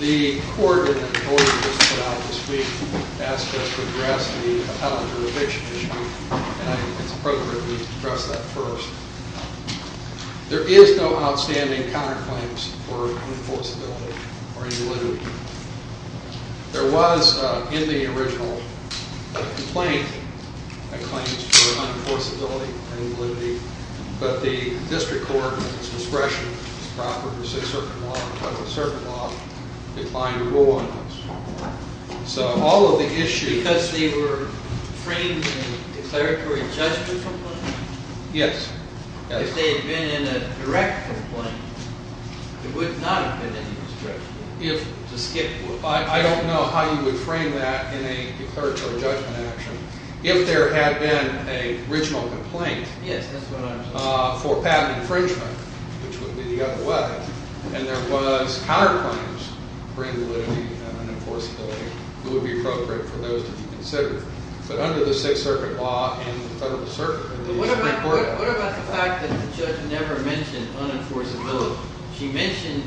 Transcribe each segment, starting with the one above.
The court in the report that was put out this week asked us to address the college of eviction this week, and I think it's appropriate we address that first. There is no outstanding counterclaims for enforceability or invalidity. There was, in the original complaint, a claim for unenforceability or invalidity, but the district court, with its discretion, its proper to say a certain law, entitled to a certain law, declined to rule on those. So, all of the issues... Because they were framed in a declaratory adjustment complaint? Yes. If they had been in a direct complaint, there would not have been any restriction. I don't know how you would frame that in a declaratory judgment action. If there had been an original complaint for patent infringement, which would be the other way, and there was counterclaims for invalidity and unenforceability, it would be appropriate for those to be considered. But under the Sixth Circuit Law and the Federal Circuit... What about the fact that the judge never mentioned unenforceability? She mentioned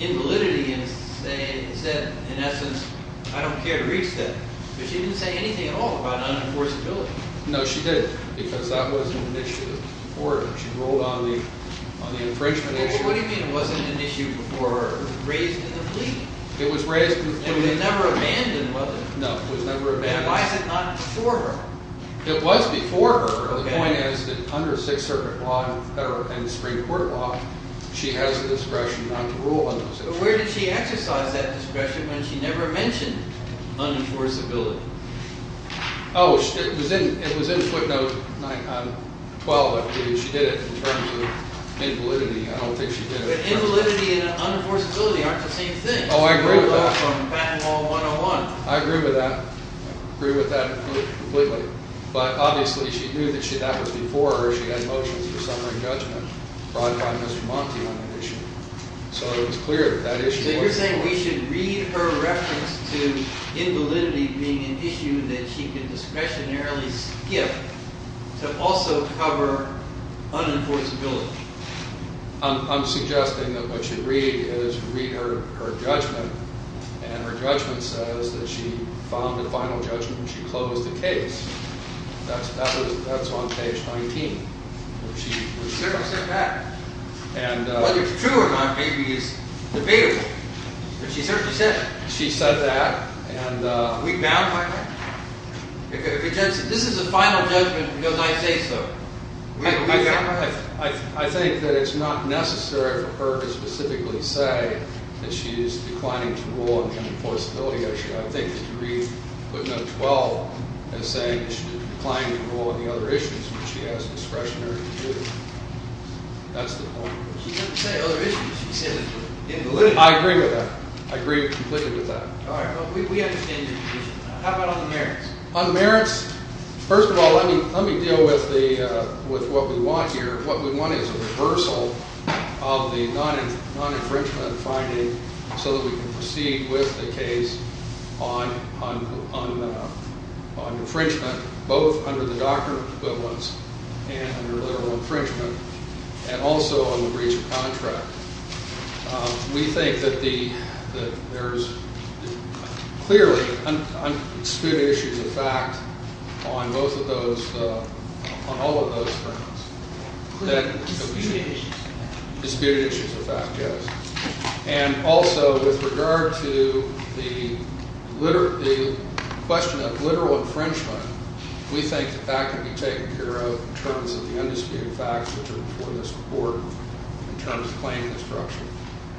invalidity and said, in essence, I don't care to reach that. But she didn't say anything at all about unenforceability. No, she didn't, because that wasn't an issue. She ruled on the infringement issue. What do you mean it wasn't an issue before it was raised in the fleet? It was raised... And it was never abandoned, was it? No, it was never abandoned. Then why is it not before her? It was before her. The point is that under Sixth Circuit Law and the Supreme Court Law, she has the discretion not to rule on those issues. But where did she exercise that discretion when she never mentioned unenforceability? Oh, it was in footnote 12. She did it in terms of invalidity. I don't think she did it in terms of... But invalidity and unenforceability aren't the same thing. Oh, I agree with that. I agree with that. I agree with that completely. But obviously she knew that that was before her. She had motions for summary judgment brought by Mr. Monti on that issue. So it was clear that that issue wasn't... So you're saying we should read her reference to invalidity being an issue that she could discretionarily skip to also cover unenforceability. I'm suggesting that what you read is read her judgment and her judgment says that she found the final judgment and she closed the case. That's on page 19. She said that. Whether it's true or not maybe is debatable. But she certainly said that. She said that and... Are we bound by that? This is a final judgment because I say so. I think that it's not necessary for her to specifically say that she is declining to rule on the unenforceability issue. I think that you read footnote 12 as saying that she's declining to rule on the other issues which she has discretionary to do. That's the point. She doesn't say other issues. She says invalidity. I agree with that. I agree completely with that. All right. Well, we understand your position. How about on the merits? On the merits, first of all, let me deal with what we want here. What we want is a reversal of the non-infringement finding so that we can proceed with the case on infringement, both under the doctrinal equivalence and under literal infringement, and also on the breach of contract. We think that there's clearly disputed issues of fact on both of those, on all of those grounds. Disputed issues of fact. Disputed issues of fact, yes. And also with regard to the question of literal infringement, we think that that can be taken care of in terms of the undisputed facts which are before this report in terms of claiming the structure.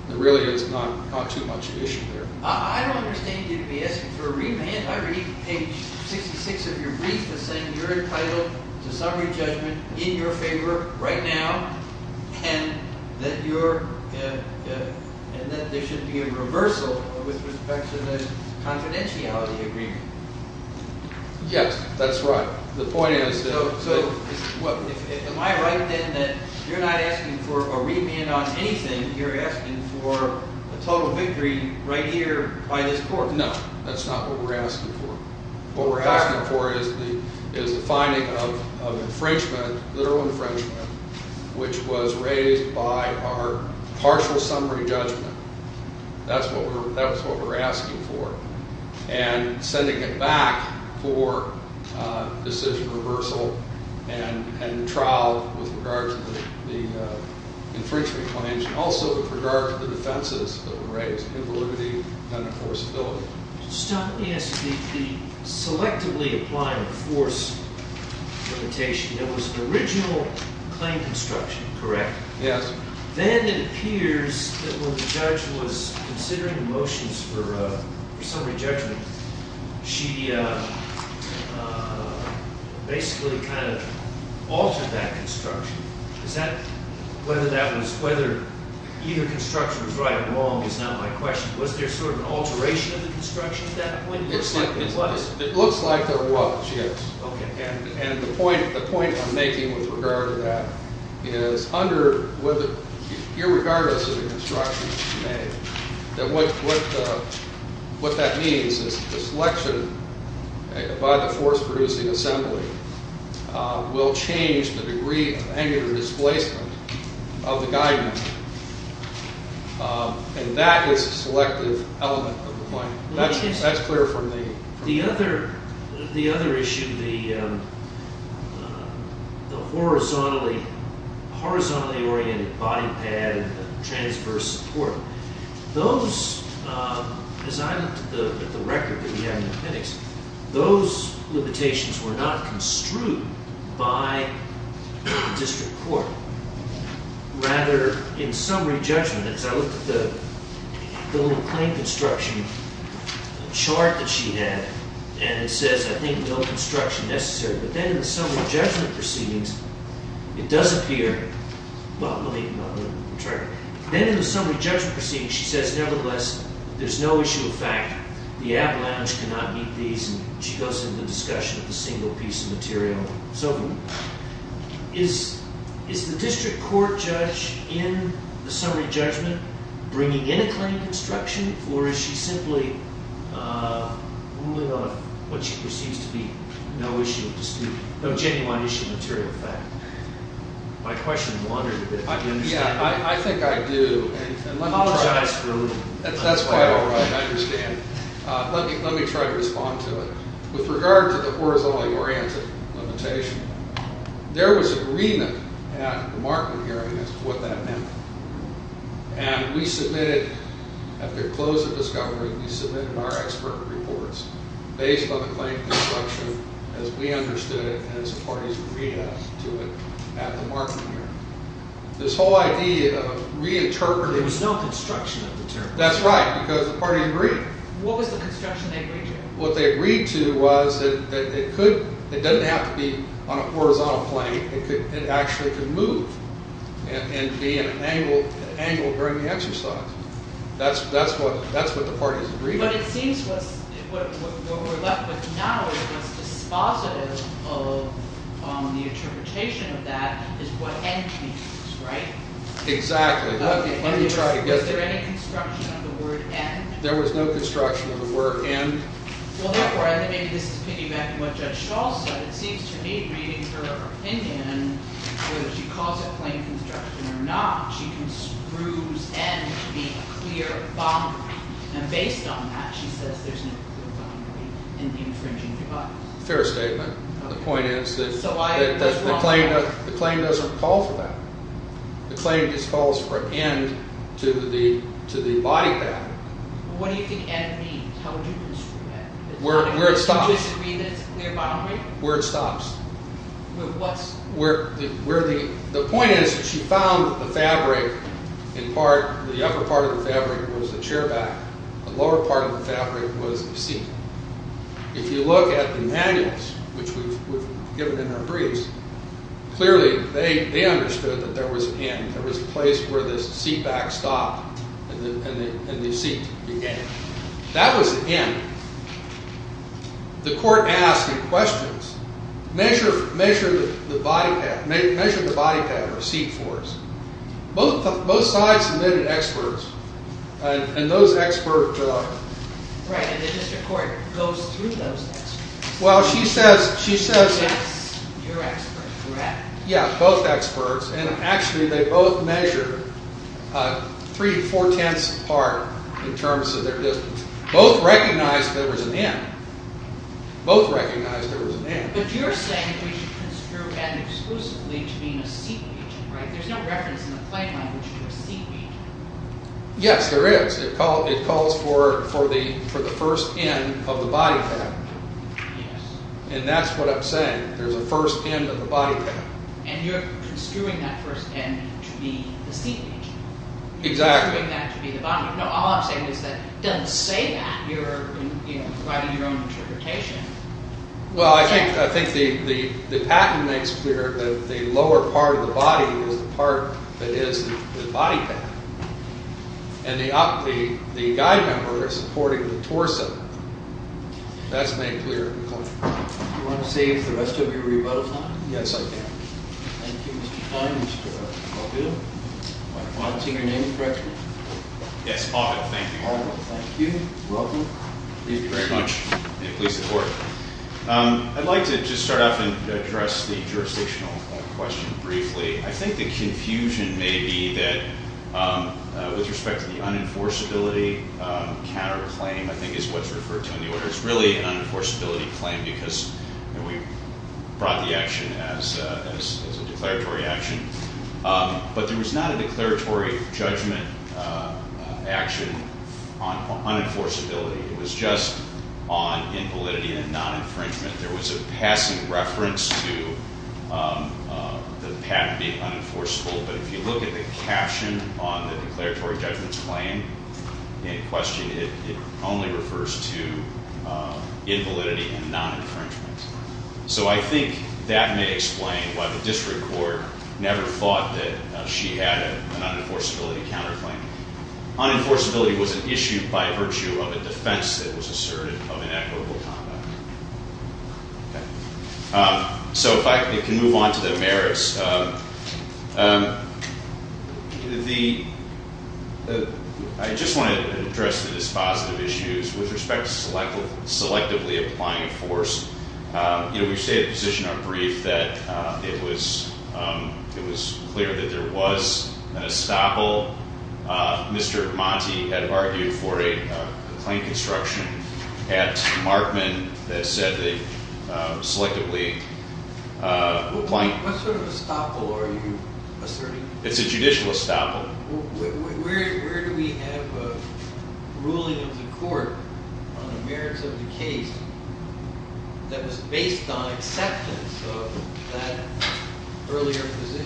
There really is not too much issue there. I don't understand you to be asking for a revamp. I read page 66 of your brief as saying you're entitled to summary judgment in your favor right now, and that there should be a reversal with respect to the confidentiality agreement. Yes, that's right. So am I right then that you're not asking for a revamp on anything, you're asking for a total victory right here by this court? No, that's not what we're asking for. What we're asking for is the finding of infringement, literal infringement, which was raised by our partial summary judgment. That's what we're asking for. And sending it back for decision reversal and trial with regard to the infringement claims, and also with regard to the defenses that were raised in the liberty and enforceability. Just let me ask, the selectively applying force limitation, that was an original claim construction, correct? Yes. Then it appears that when the judge was considering motions for summary judgment, she basically kind of altered that construction. Is that whether that was whether either construction was right or wrong is not my question. Was there sort of an alteration of the construction at that point? It looks like there was, yes. And the point I'm making with regard to that is, irregardless of the construction that was made, that what that means is that the selection by the force producing assembly will change the degree of angular displacement of the guidance. And that is a selective element of the claim. That's clear for me. The other issue, the horizontally oriented body pad and the transverse support, those, as I looked at the record that we have in the appendix, those limitations were not construed by the district court. Rather, in summary judgment, as I looked at the little claim construction chart that she had, and it says, I think, no construction necessary. But then in the summary judgment proceedings, it does appear, well, let me try. Then in the summary judgment proceedings, she says, nevertheless, there's no issue of fact. The app lounge cannot meet these. And she goes into the discussion of the single piece of material. So is the district court judge in the summary judgment bringing in a claim construction, or is she simply ruling on what she perceives to be no issue of dispute, no genuine issue of material fact? My question blundered a bit. Yeah, I think I do. Apologize for a little. That's quite all right. I understand. Let me try to respond to it. With regard to the horizontally oriented limitation, there was agreement at the Markman hearing as to what that meant. And we submitted, at the close of discovery, we submitted our expert reports based on the claim construction as we understood it and as the parties agreed to it at the Markman hearing. This whole idea of reinterpreting. There was no construction of the term. That's right, because the party agreed. What was the construction they agreed to? What they agreed to was that it doesn't have to be on a horizontal plane. It actually could move and be an angle during the exercise. That's what the parties agreed to. But it seems what we're left with now is dispositive of the interpretation of that is what end means, right? Exactly. Let me try to get to it. Was there any construction of the word end? There was no construction of the word end. Well, therefore, I think maybe this is piggybacking on what Judge Shaw said. It seems to me, reading her opinion, whether she calls it plain construction or not, she construes end to be a clear boundary. And based on that, she says there's no clear boundary in the infringing device. Fair statement. The point is that the claim doesn't call for that. The claim just calls for an end to the body pattern. What do you think end means? How would you describe it? Would you disagree that it's a clear boundary? Where it stops. With what? The point is that she found the fabric, in part, the upper part of the fabric was the chair back. The lower part of the fabric was the seat. If you look at the manuals, which we've given in our briefs, clearly they understood that there was an end. There was a place where the seat back stopped and the seat began. That was an end. The court asked in questions, measure the body pattern of seat fours. Both sides submitted experts, and those experts- Right, and the district court goes through those experts. Well, she says- That's your experts. Correct. Yeah, both experts. And actually, they both measured three to four-tenths apart in terms of their distance. Both recognized there was an end. Both recognized there was an end. But you're saying we should construe end exclusively to mean a seat region, right? There's no reference in the plain language to a seat region. Yes, there is. It calls for the first end of the body pattern. Yes. And that's what I'm saying. There's a first end of the body pattern. And you're construing that first end to be the seat region. Exactly. You're construing that to be the body. No, all I'm saying is that it doesn't say that. You're providing your own interpretation. Well, I think the pattern makes clear that the lower part of the body is the part that is the body pattern. And the guy member is supporting the torso. That's made clear. Do you want to save the rest of your rebuttal time? Yes, I do. Thank you, Mr. Klein, Mr. Caldwell. I don't see your name. Correct me? Yes, Paul Caldwell. Thank you. Paul Caldwell, thank you. Welcome. Thank you very much. And please support. I'd like to just start off and address the jurisdictional question briefly. I think the confusion may be that with respect to the unenforceability counterclaim, I think, is what's referred to in the order. It's really an unenforceability claim because we brought the action as a declaratory action. But there was not a declaratory judgment action on unenforceability. It was just on invalidity and non-infringement. There was a passing reference to the patent being unenforceable. But if you look at the caption on the declaratory judgment claim in question, it only refers to invalidity and non-infringement. So I think that may explain why the district court never thought that she had an unenforceability counterclaim. Unenforceability was an issue by virtue of a defense that was asserted of inequitable conduct. So if I can move on to the merits. I just wanted to address the dispositive issues with respect to selectively applying a force. We've stated in a position on brief that it was clear that there was an estoppel. Mr. Monti had argued for a claim construction at Markman that said they selectively applying- What sort of estoppel are you asserting? It's a judicial estoppel. Where do we have a ruling of the court on the merits of the case that was based on acceptance of that earlier position?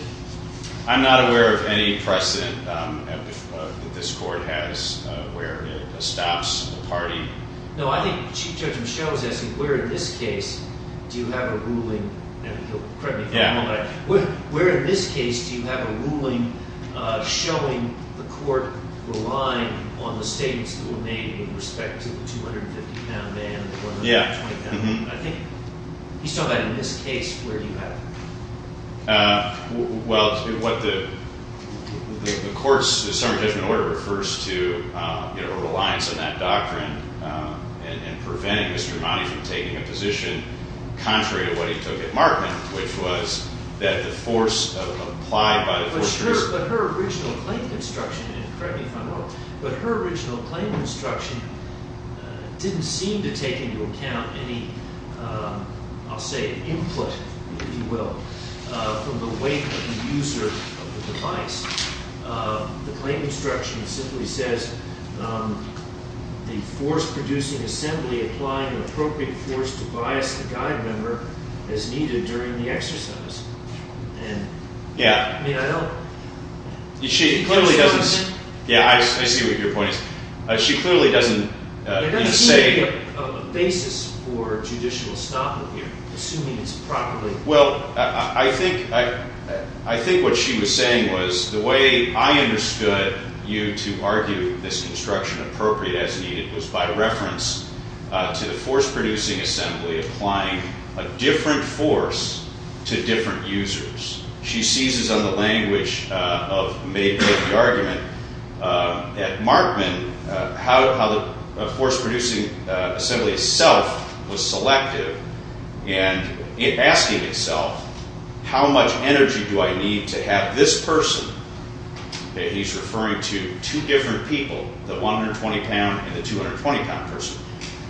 I'm not aware of any precedent that this court has where it estops a party. No, I think Chief Judge Michel was asking where in this case do you have a ruling showing the court relying on the statements that were made in respect to the 250-pound man and the 120-pound man. I think he's talking about in this case, where do you have it? Well, the court's summary judgment order refers to a reliance on that doctrine and preventing Mr. Monti from taking a position contrary to what he took at Markman, which was that the force applied by the- But her original claim construction, correct me if I'm wrong, but her original claim construction didn't seem to take into account any, I'll say, input, if you will, from the weight of the user of the device. The claim instruction simply says, the force producing assembly applying the appropriate force to bias the guide member as needed during the exercise. Yeah. I mean, I don't- She clearly doesn't- Yeah, I see what your point is. She clearly doesn't say- There doesn't seem to be a basis for judicial estoppel here, assuming it's properly- She seizes on the language of the argument at Markman, how the force producing assembly itself was selective in asking itself, how much energy do I need to have this person, and he's referring to two different people, the 120-pound and the 220-pound person.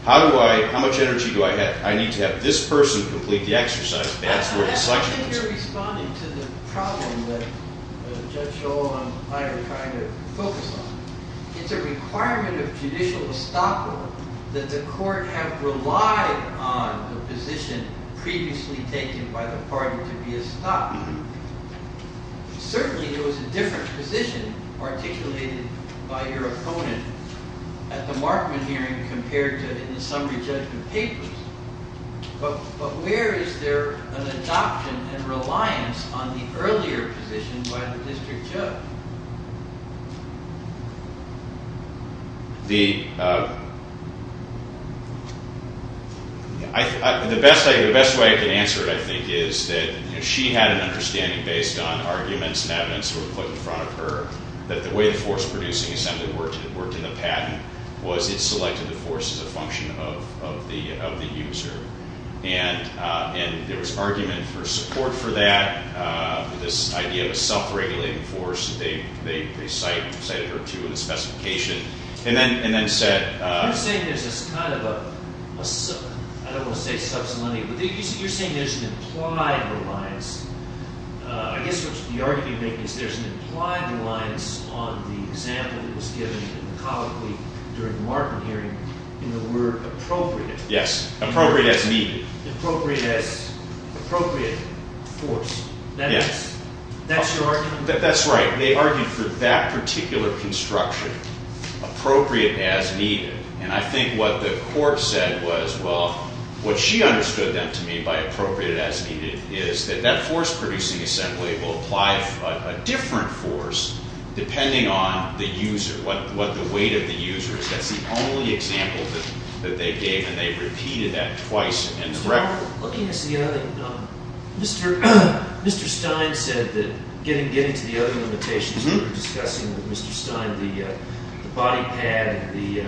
How do I- How much energy do I need to have this person complete the exercise and ask for the selection of this person? I think you're responding to the problem that Judge Shull and I are trying to focus on. It's a requirement of judicial estoppel that the court have relied on the position previously taken by the party to be estoppel. Certainly, there was a different position articulated by your opponent at the Markman hearing compared to in the summary judgment papers, but where is there an adoption and reliance on the earlier position by the district judge? The best way I can answer it, I think, is that she had an understanding based on arguments and evidence that were put in front of her that the way the force producing assembly worked in the patent was it selected the force as a function of the user. There was argument for support for that, this idea of a self-regulating force that they cited her to in the specification, and then said- You're saying there's this kind of a, I don't want to say subselenity, but you're saying there's an implied reliance. I guess what's the argument you're making is there's an implied reliance on the example that was given in the colloquy during the Markman hearing in the word appropriate. Yes, appropriate as needed. Appropriate force. Yes. That's your argument? That's right. They argued for that particular construction, appropriate as needed. And I think what the court said was, well, what she understood then to mean by appropriate as needed is that that force producing assembly will apply a different force depending on the user, what the weight of the user is. That's the only example that they gave, and they repeated that twice in the record. Mr. Stein said that getting to the other limitations we were discussing with Mr. Stein, the body pad and the-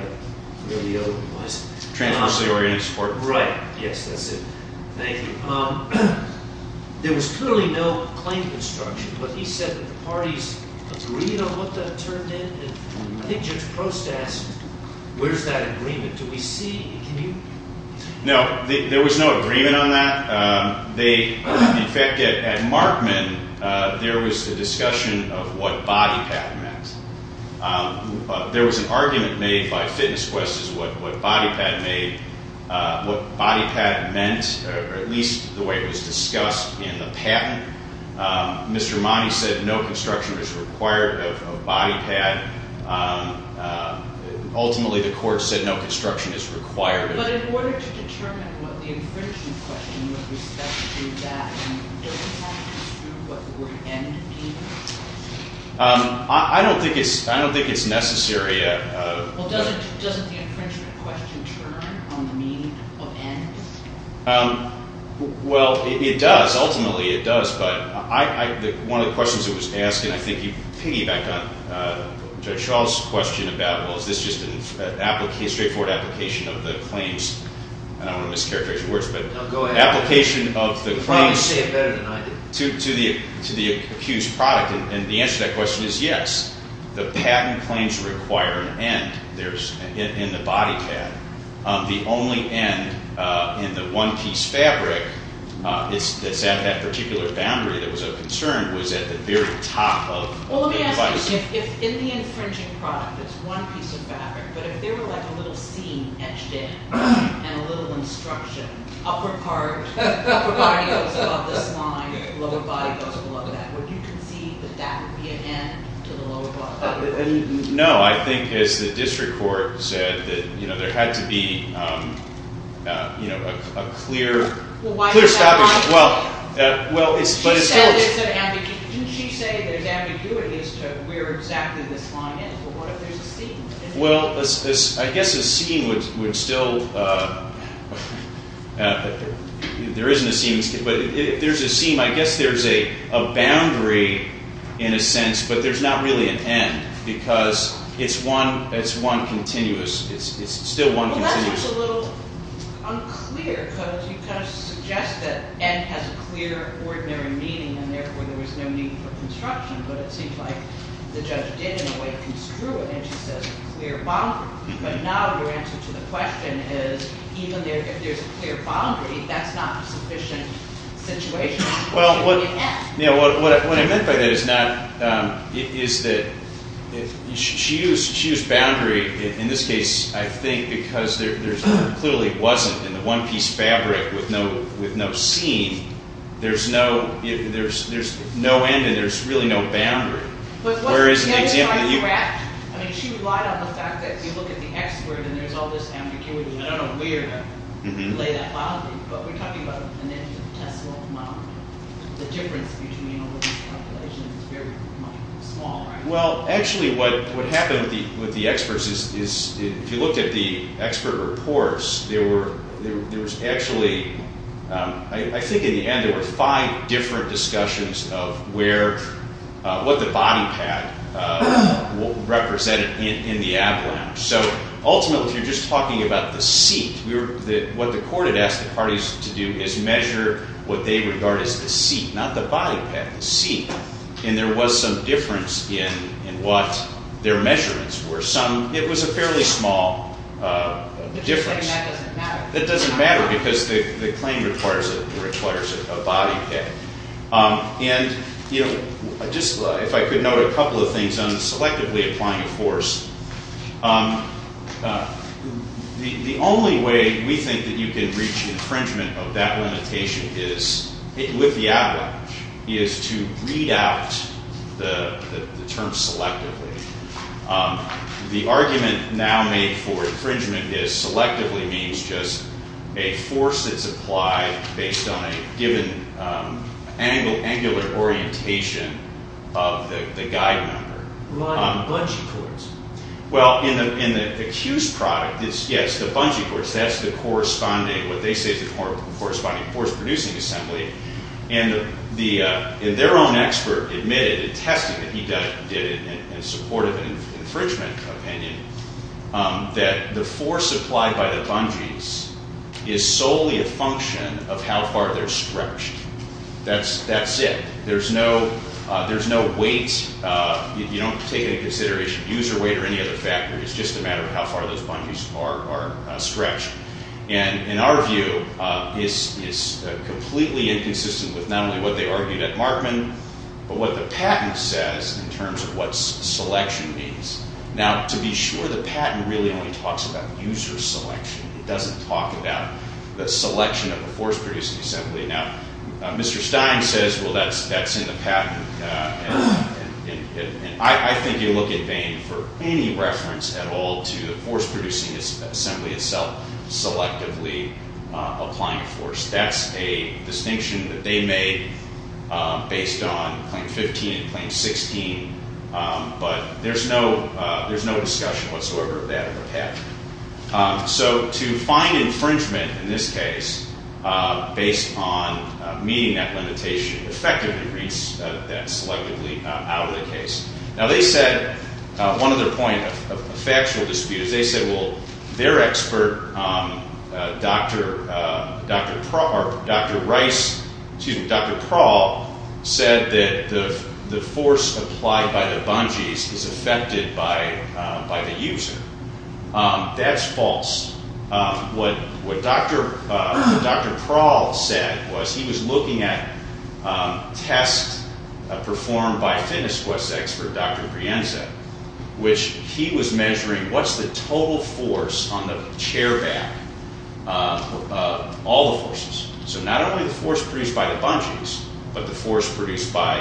Transversely oriented support. Right. Yes, that's it. Thank you. There was clearly no claim construction, but he said that the parties agreed on what that turned into. I think Judge Prost asked, where's that agreement? Do we see? Can you- No, there was no agreement on that. In fact, at Markman, there was a discussion of what body pad meant. There was an argument made by Fitness Quest as to what body pad meant, or at least the way it was discussed in the patent. Mr. Money said no construction was required of body pad. Ultimately, the court said no construction is required. But in order to determine what the infringement question was with respect to that, doesn't that construe what the word end means? I don't think it's necessary yet. Well, doesn't the infringement question turn on the meaning of end? Well, it does. Ultimately, it does. But one of the questions that was asked, and I think you piggybacked on Judge Shaw's question about, well, is this just a straightforward application of the claims? I don't want to mischaracterize your words, but application of the claims to the accused product. And the answer to that question is yes. The patent claims require an end in the body pad. The only end in the one-piece fabric that's at that particular boundary that was of concern was at the very top of the device. Well, let me ask you, if in the infringing product it's one piece of fabric, but if there were like a little seam etched in and a little instruction, upper part, upper body goes above this line, lower body goes below that, would you concede that that would be an end to the lower body? No. I think, as the district court said, that there had to be a clear stoppage. Well, why is that? Well, it's still a— She said it's an ambiguity. Didn't she say that it's ambiguity as to where exactly this line ends? Well, what if there's a seam? Well, I guess a seam would still—there isn't a seam. But if there's a seam, I guess there's a boundary in a sense, but there's not really an end, because it's one continuous—it's still one continuous— Well, that seems a little unclear, because you kind of suggest that end has a clear, ordinary meaning, and therefore there was no need for construction. But it seems like the judge did, in a way, construe it, and she says clear boundary. But now your answer to the question is, even if there's a clear boundary, that's not a sufficient situation. Well, what I meant by that is not—is that she used boundary in this case, I think, because there clearly wasn't, in the one-piece fabric, with no seam, there's no end and there's really no boundary. I mean, she relied on the fact that if you look at the expert, and there's all this ambiguity, and I don't know where to lay that bondage, but we're talking about a financial test model. The difference between all of these calculations is very small, right? Well, actually, what happened with the experts is, if you looked at the expert reports, there was actually—I think in the end, there were five different discussions of what the body pad represented in the ab lounge. So ultimately, if you're just talking about the seat, what the court had asked the parties to do is measure what they regard as the seat, not the body pad, the seat. And there was some difference in what their measurements were. It was a fairly small difference. The claim that doesn't matter. That doesn't matter, because the claim requires a body pad. And if I could note a couple of things on selectively applying a force, the only way we think that you can reach infringement of that limitation with the ab lounge is to read out the term selectively. The argument now made for infringement is selectively means just a force that's applied based on a given angular orientation of the guide member. Like bungee cords. Well, in the accused product, yes, the bungee cords. That's the corresponding—what they say is the corresponding force producing assembly. And their own expert admitted, attesting that he did it in support of an infringement opinion, that the force applied by the bungees is solely a function of how far they're stretched. That's it. There's no weight. You don't take any consideration of user weight or any other factor. It's just a matter of how far those bungees are stretched. And in our view, it's completely inconsistent with not only what they argued at Markman, but what the patent says in terms of what selection means. Now, to be sure, the patent really only talks about user selection. It doesn't talk about the selection of a force producing assembly. Now, Mr. Stein says, well, that's in the patent. And I think you look in vain for any reference at all to the force producing assembly itself selectively applying a force. That's a distinction that they made based on claim 15 and claim 16. But there's no discussion whatsoever of that in the patent. So to find infringement in this case, based on meeting that limitation, effectively reached that selectively out of the case. Now, they said, one of their point of factual dispute is they said, well, their expert, Dr. Rice, excuse me, Dr. Prawl, said that the force applied by the bungees is affected by the user. That's false. What Dr. Prawl said was he was looking at tests performed by fitness sports expert Dr. Pienza, which he was measuring what's the total force on the chair back, all the forces. So not only the force produced by the bungees, but the force produced by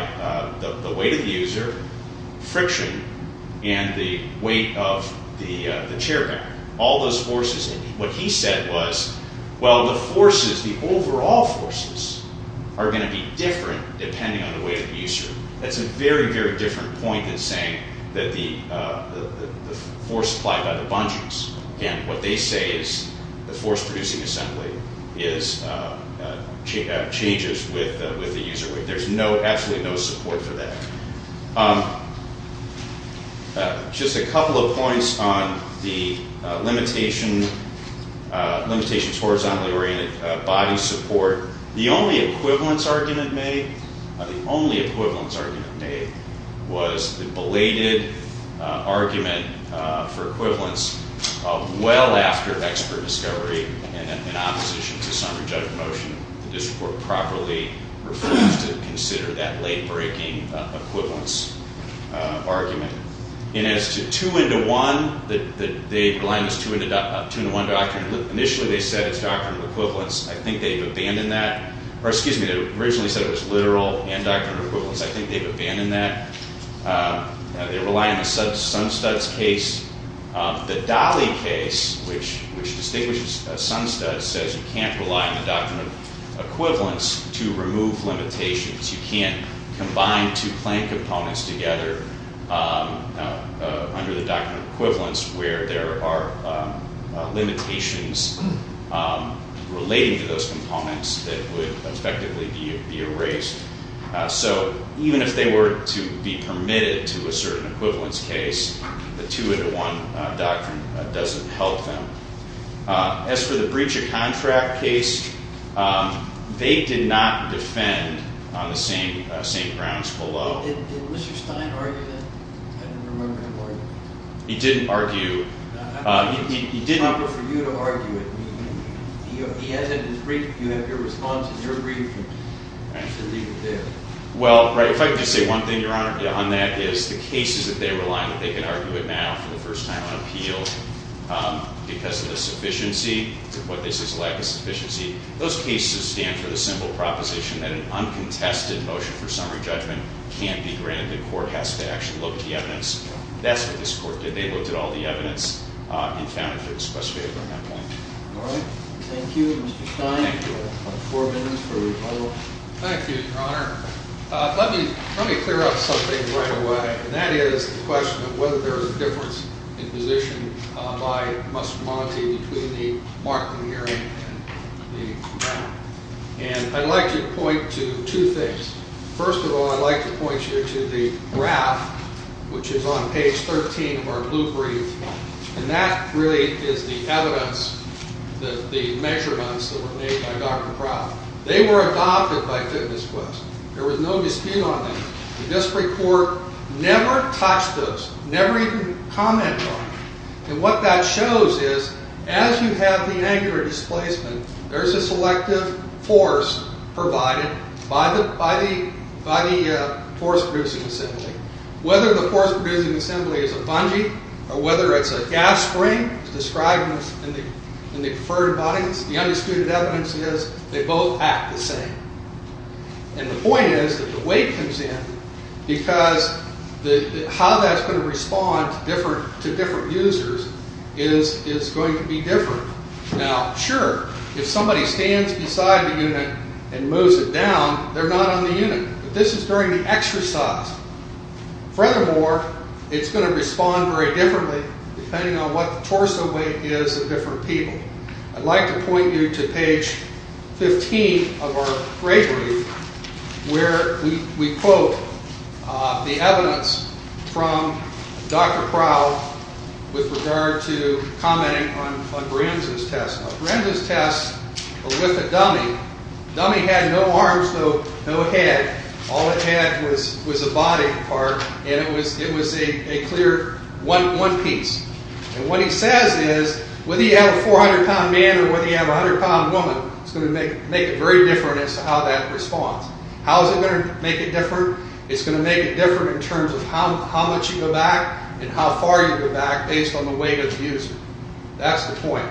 the weight of the user, friction, and the weight of the chair back, all those forces. And what he said was, well, the forces, the overall forces are going to be different depending on the weight of the user. That's a very, very different point than saying that the force applied by the bungees. Again, what they say is the force producing assembly changes with the user weight. There's absolutely no support for that. Just a couple of points on the limitations horizontally oriented body support. The only equivalence argument made, the only equivalence argument made was the belated argument for equivalence well after expert discovery and in opposition to summary judgment motion. The district court properly refused to consider that late-breaking equivalence argument. And as to 2 into 1, they rely on this 2 into 1 doctrine. Initially they said it's doctrinal equivalence. I think they've abandoned that. Or, excuse me, they originally said it was literal and doctrinal equivalence. I think they've abandoned that. They rely on the Sunstud's case. The Dahle case, which distinguishes Sunstud, says you can't rely on the doctrine of equivalence to remove limitations. You can't combine two claim components together under the doctrine of equivalence where there are limitations relating to those components that would effectively be erased. So even if they were to be permitted to a certain equivalence case, the 2 into 1 doctrine doesn't help them. As for the breach of contract case, they did not defend on the same grounds below. Did Mr. Stein argue that? I don't remember him arguing it. He didn't argue. It would be proper for you to argue it. He has it in his brief. You have your responses. You're agreeing to leave it there. Well, if I could just say one thing, Your Honor, on that is the cases that they rely on, they can argue it now for the first time on appeal. Because of the sufficiency to what they say is a lack of sufficiency. Those cases stand for the simple proposition that an uncontested motion for summary judgment can't be granted. The court has to actually look at the evidence. That's what this court did. They looked at all the evidence and found it to be specific on that point. All right. Thank you, Mr. Stein. Thank you. Four minutes for rebuttal. Thank you, Your Honor. Let me clear up something right away. And that is the question of whether there is a difference in position by Mr. Monti between the Markman hearing and the Brown. And I'd like to point to two things. First of all, I'd like to point you to the graph, which is on page 13 of our blue brief. And that really is the evidence that the measurements that were made by Dr. Proud. They were adopted by Fitness Quest. There was no dispute on them. The district court never touched those, never even commented on them. And what that shows is as you have the angular displacement, there's a selective force provided by the force-producing assembly. Whether the force-producing assembly is a bungee or whether it's a gas spring as described in the preferred bodies, the undisputed evidence is they both act the same. And the point is that the weight comes in because how that's going to respond to different users is going to be different. Now, sure, if somebody stands beside the unit and moves it down, they're not on the unit. But this is during the exercise. Furthermore, it's going to respond very differently depending on what the torso weight is of different people. I'd like to point you to page 15 of our gray brief where we quote the evidence from Dr. Proud with regard to commenting on Bramson's test. Now, Bramson's test was with a dummy. The dummy had no arms, though, no head. All it had was a body part, and it was a clear one piece. And what he says is whether you have a 400-pound man or whether you have a 100-pound woman, it's going to make it very different as to how that responds. How is it going to make it different? It's going to make it different in terms of how much you go back and how far you go back based on the weight of the user. That's the point.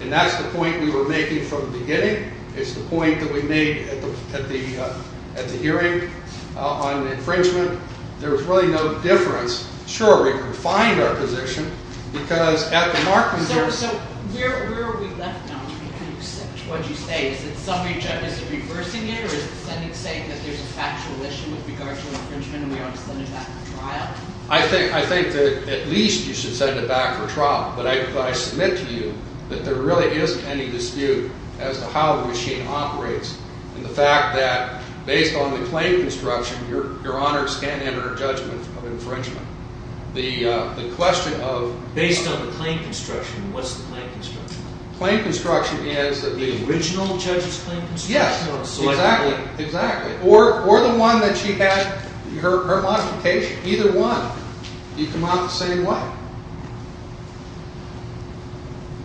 And that's the point we were making from the beginning. It's the point that we made at the hearing on infringement. There was really no difference. Sure, we could find our position, because at the markings there's – So where are we left now? Can you accept what you say? Is it summary judge is reversing it, or is the Senate saying that there's a factual issue with regard to infringement and we ought to send it back for trial? I think that at least you should send it back for trial. But I submit to you that there really isn't any dispute as to how the machine operates and the fact that based on the claim construction, your Honor can enter a judgment of infringement. The question of – Based on the claim construction, what's the claim construction? Claim construction is – The original judge's claim construction? Yes, exactly. Or the one that she had, her modification. Either one. You come out the same way.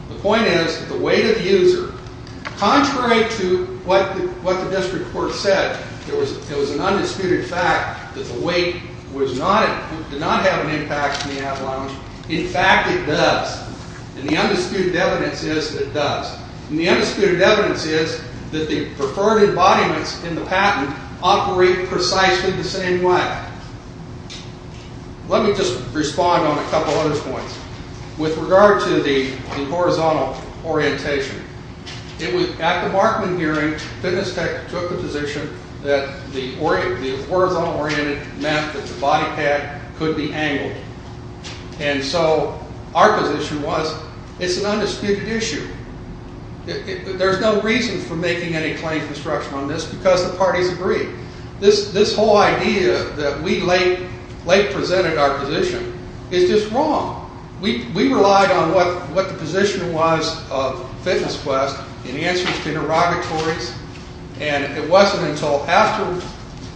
The point is that the weight of the user – Contrary to what the district court said, there was an undisputed fact that the weight did not have an impact on the avalanche. In fact, it does. And the undisputed evidence is that it does. And the undisputed evidence is that the preferred embodiments in the patent operate precisely the same way. Let me just respond on a couple other points. With regard to the horizontal orientation, at the Markman hearing, FitnessTech took the position that the horizontal oriented meant that the body pack could be angled. And so our position was it's an undisputed issue. There's no reason for making any claim construction on this because the parties agreed. This whole idea that we late presented our position is just wrong. We relied on what the position was of FitnessQuest in the answers to interrogatories. And it wasn't until after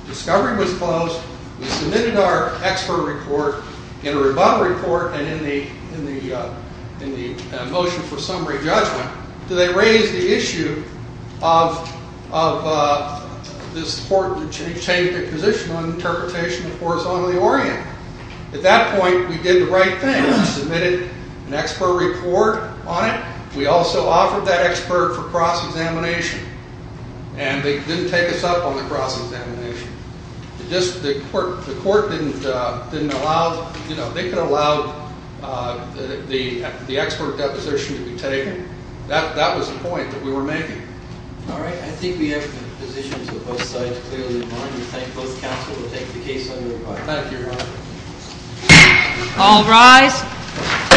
discovery was closed, we submitted our expert report in a rebuttal report and in the motion for summary judgment, that they raised the issue of this court changing their position on the interpretation of horizontally oriented. At that point, we did the right thing. We submitted an expert report on it. We also offered that expert for cross-examination. And they didn't take us up on the cross-examination. The court didn't allow, you know, they could allow the expert deposition to be taken. That was the point that we were making. All right. I think we have the positions of both sides clearly in mind. We thank both counsel to take the case on their part. Thank you, Your Honor. All rise.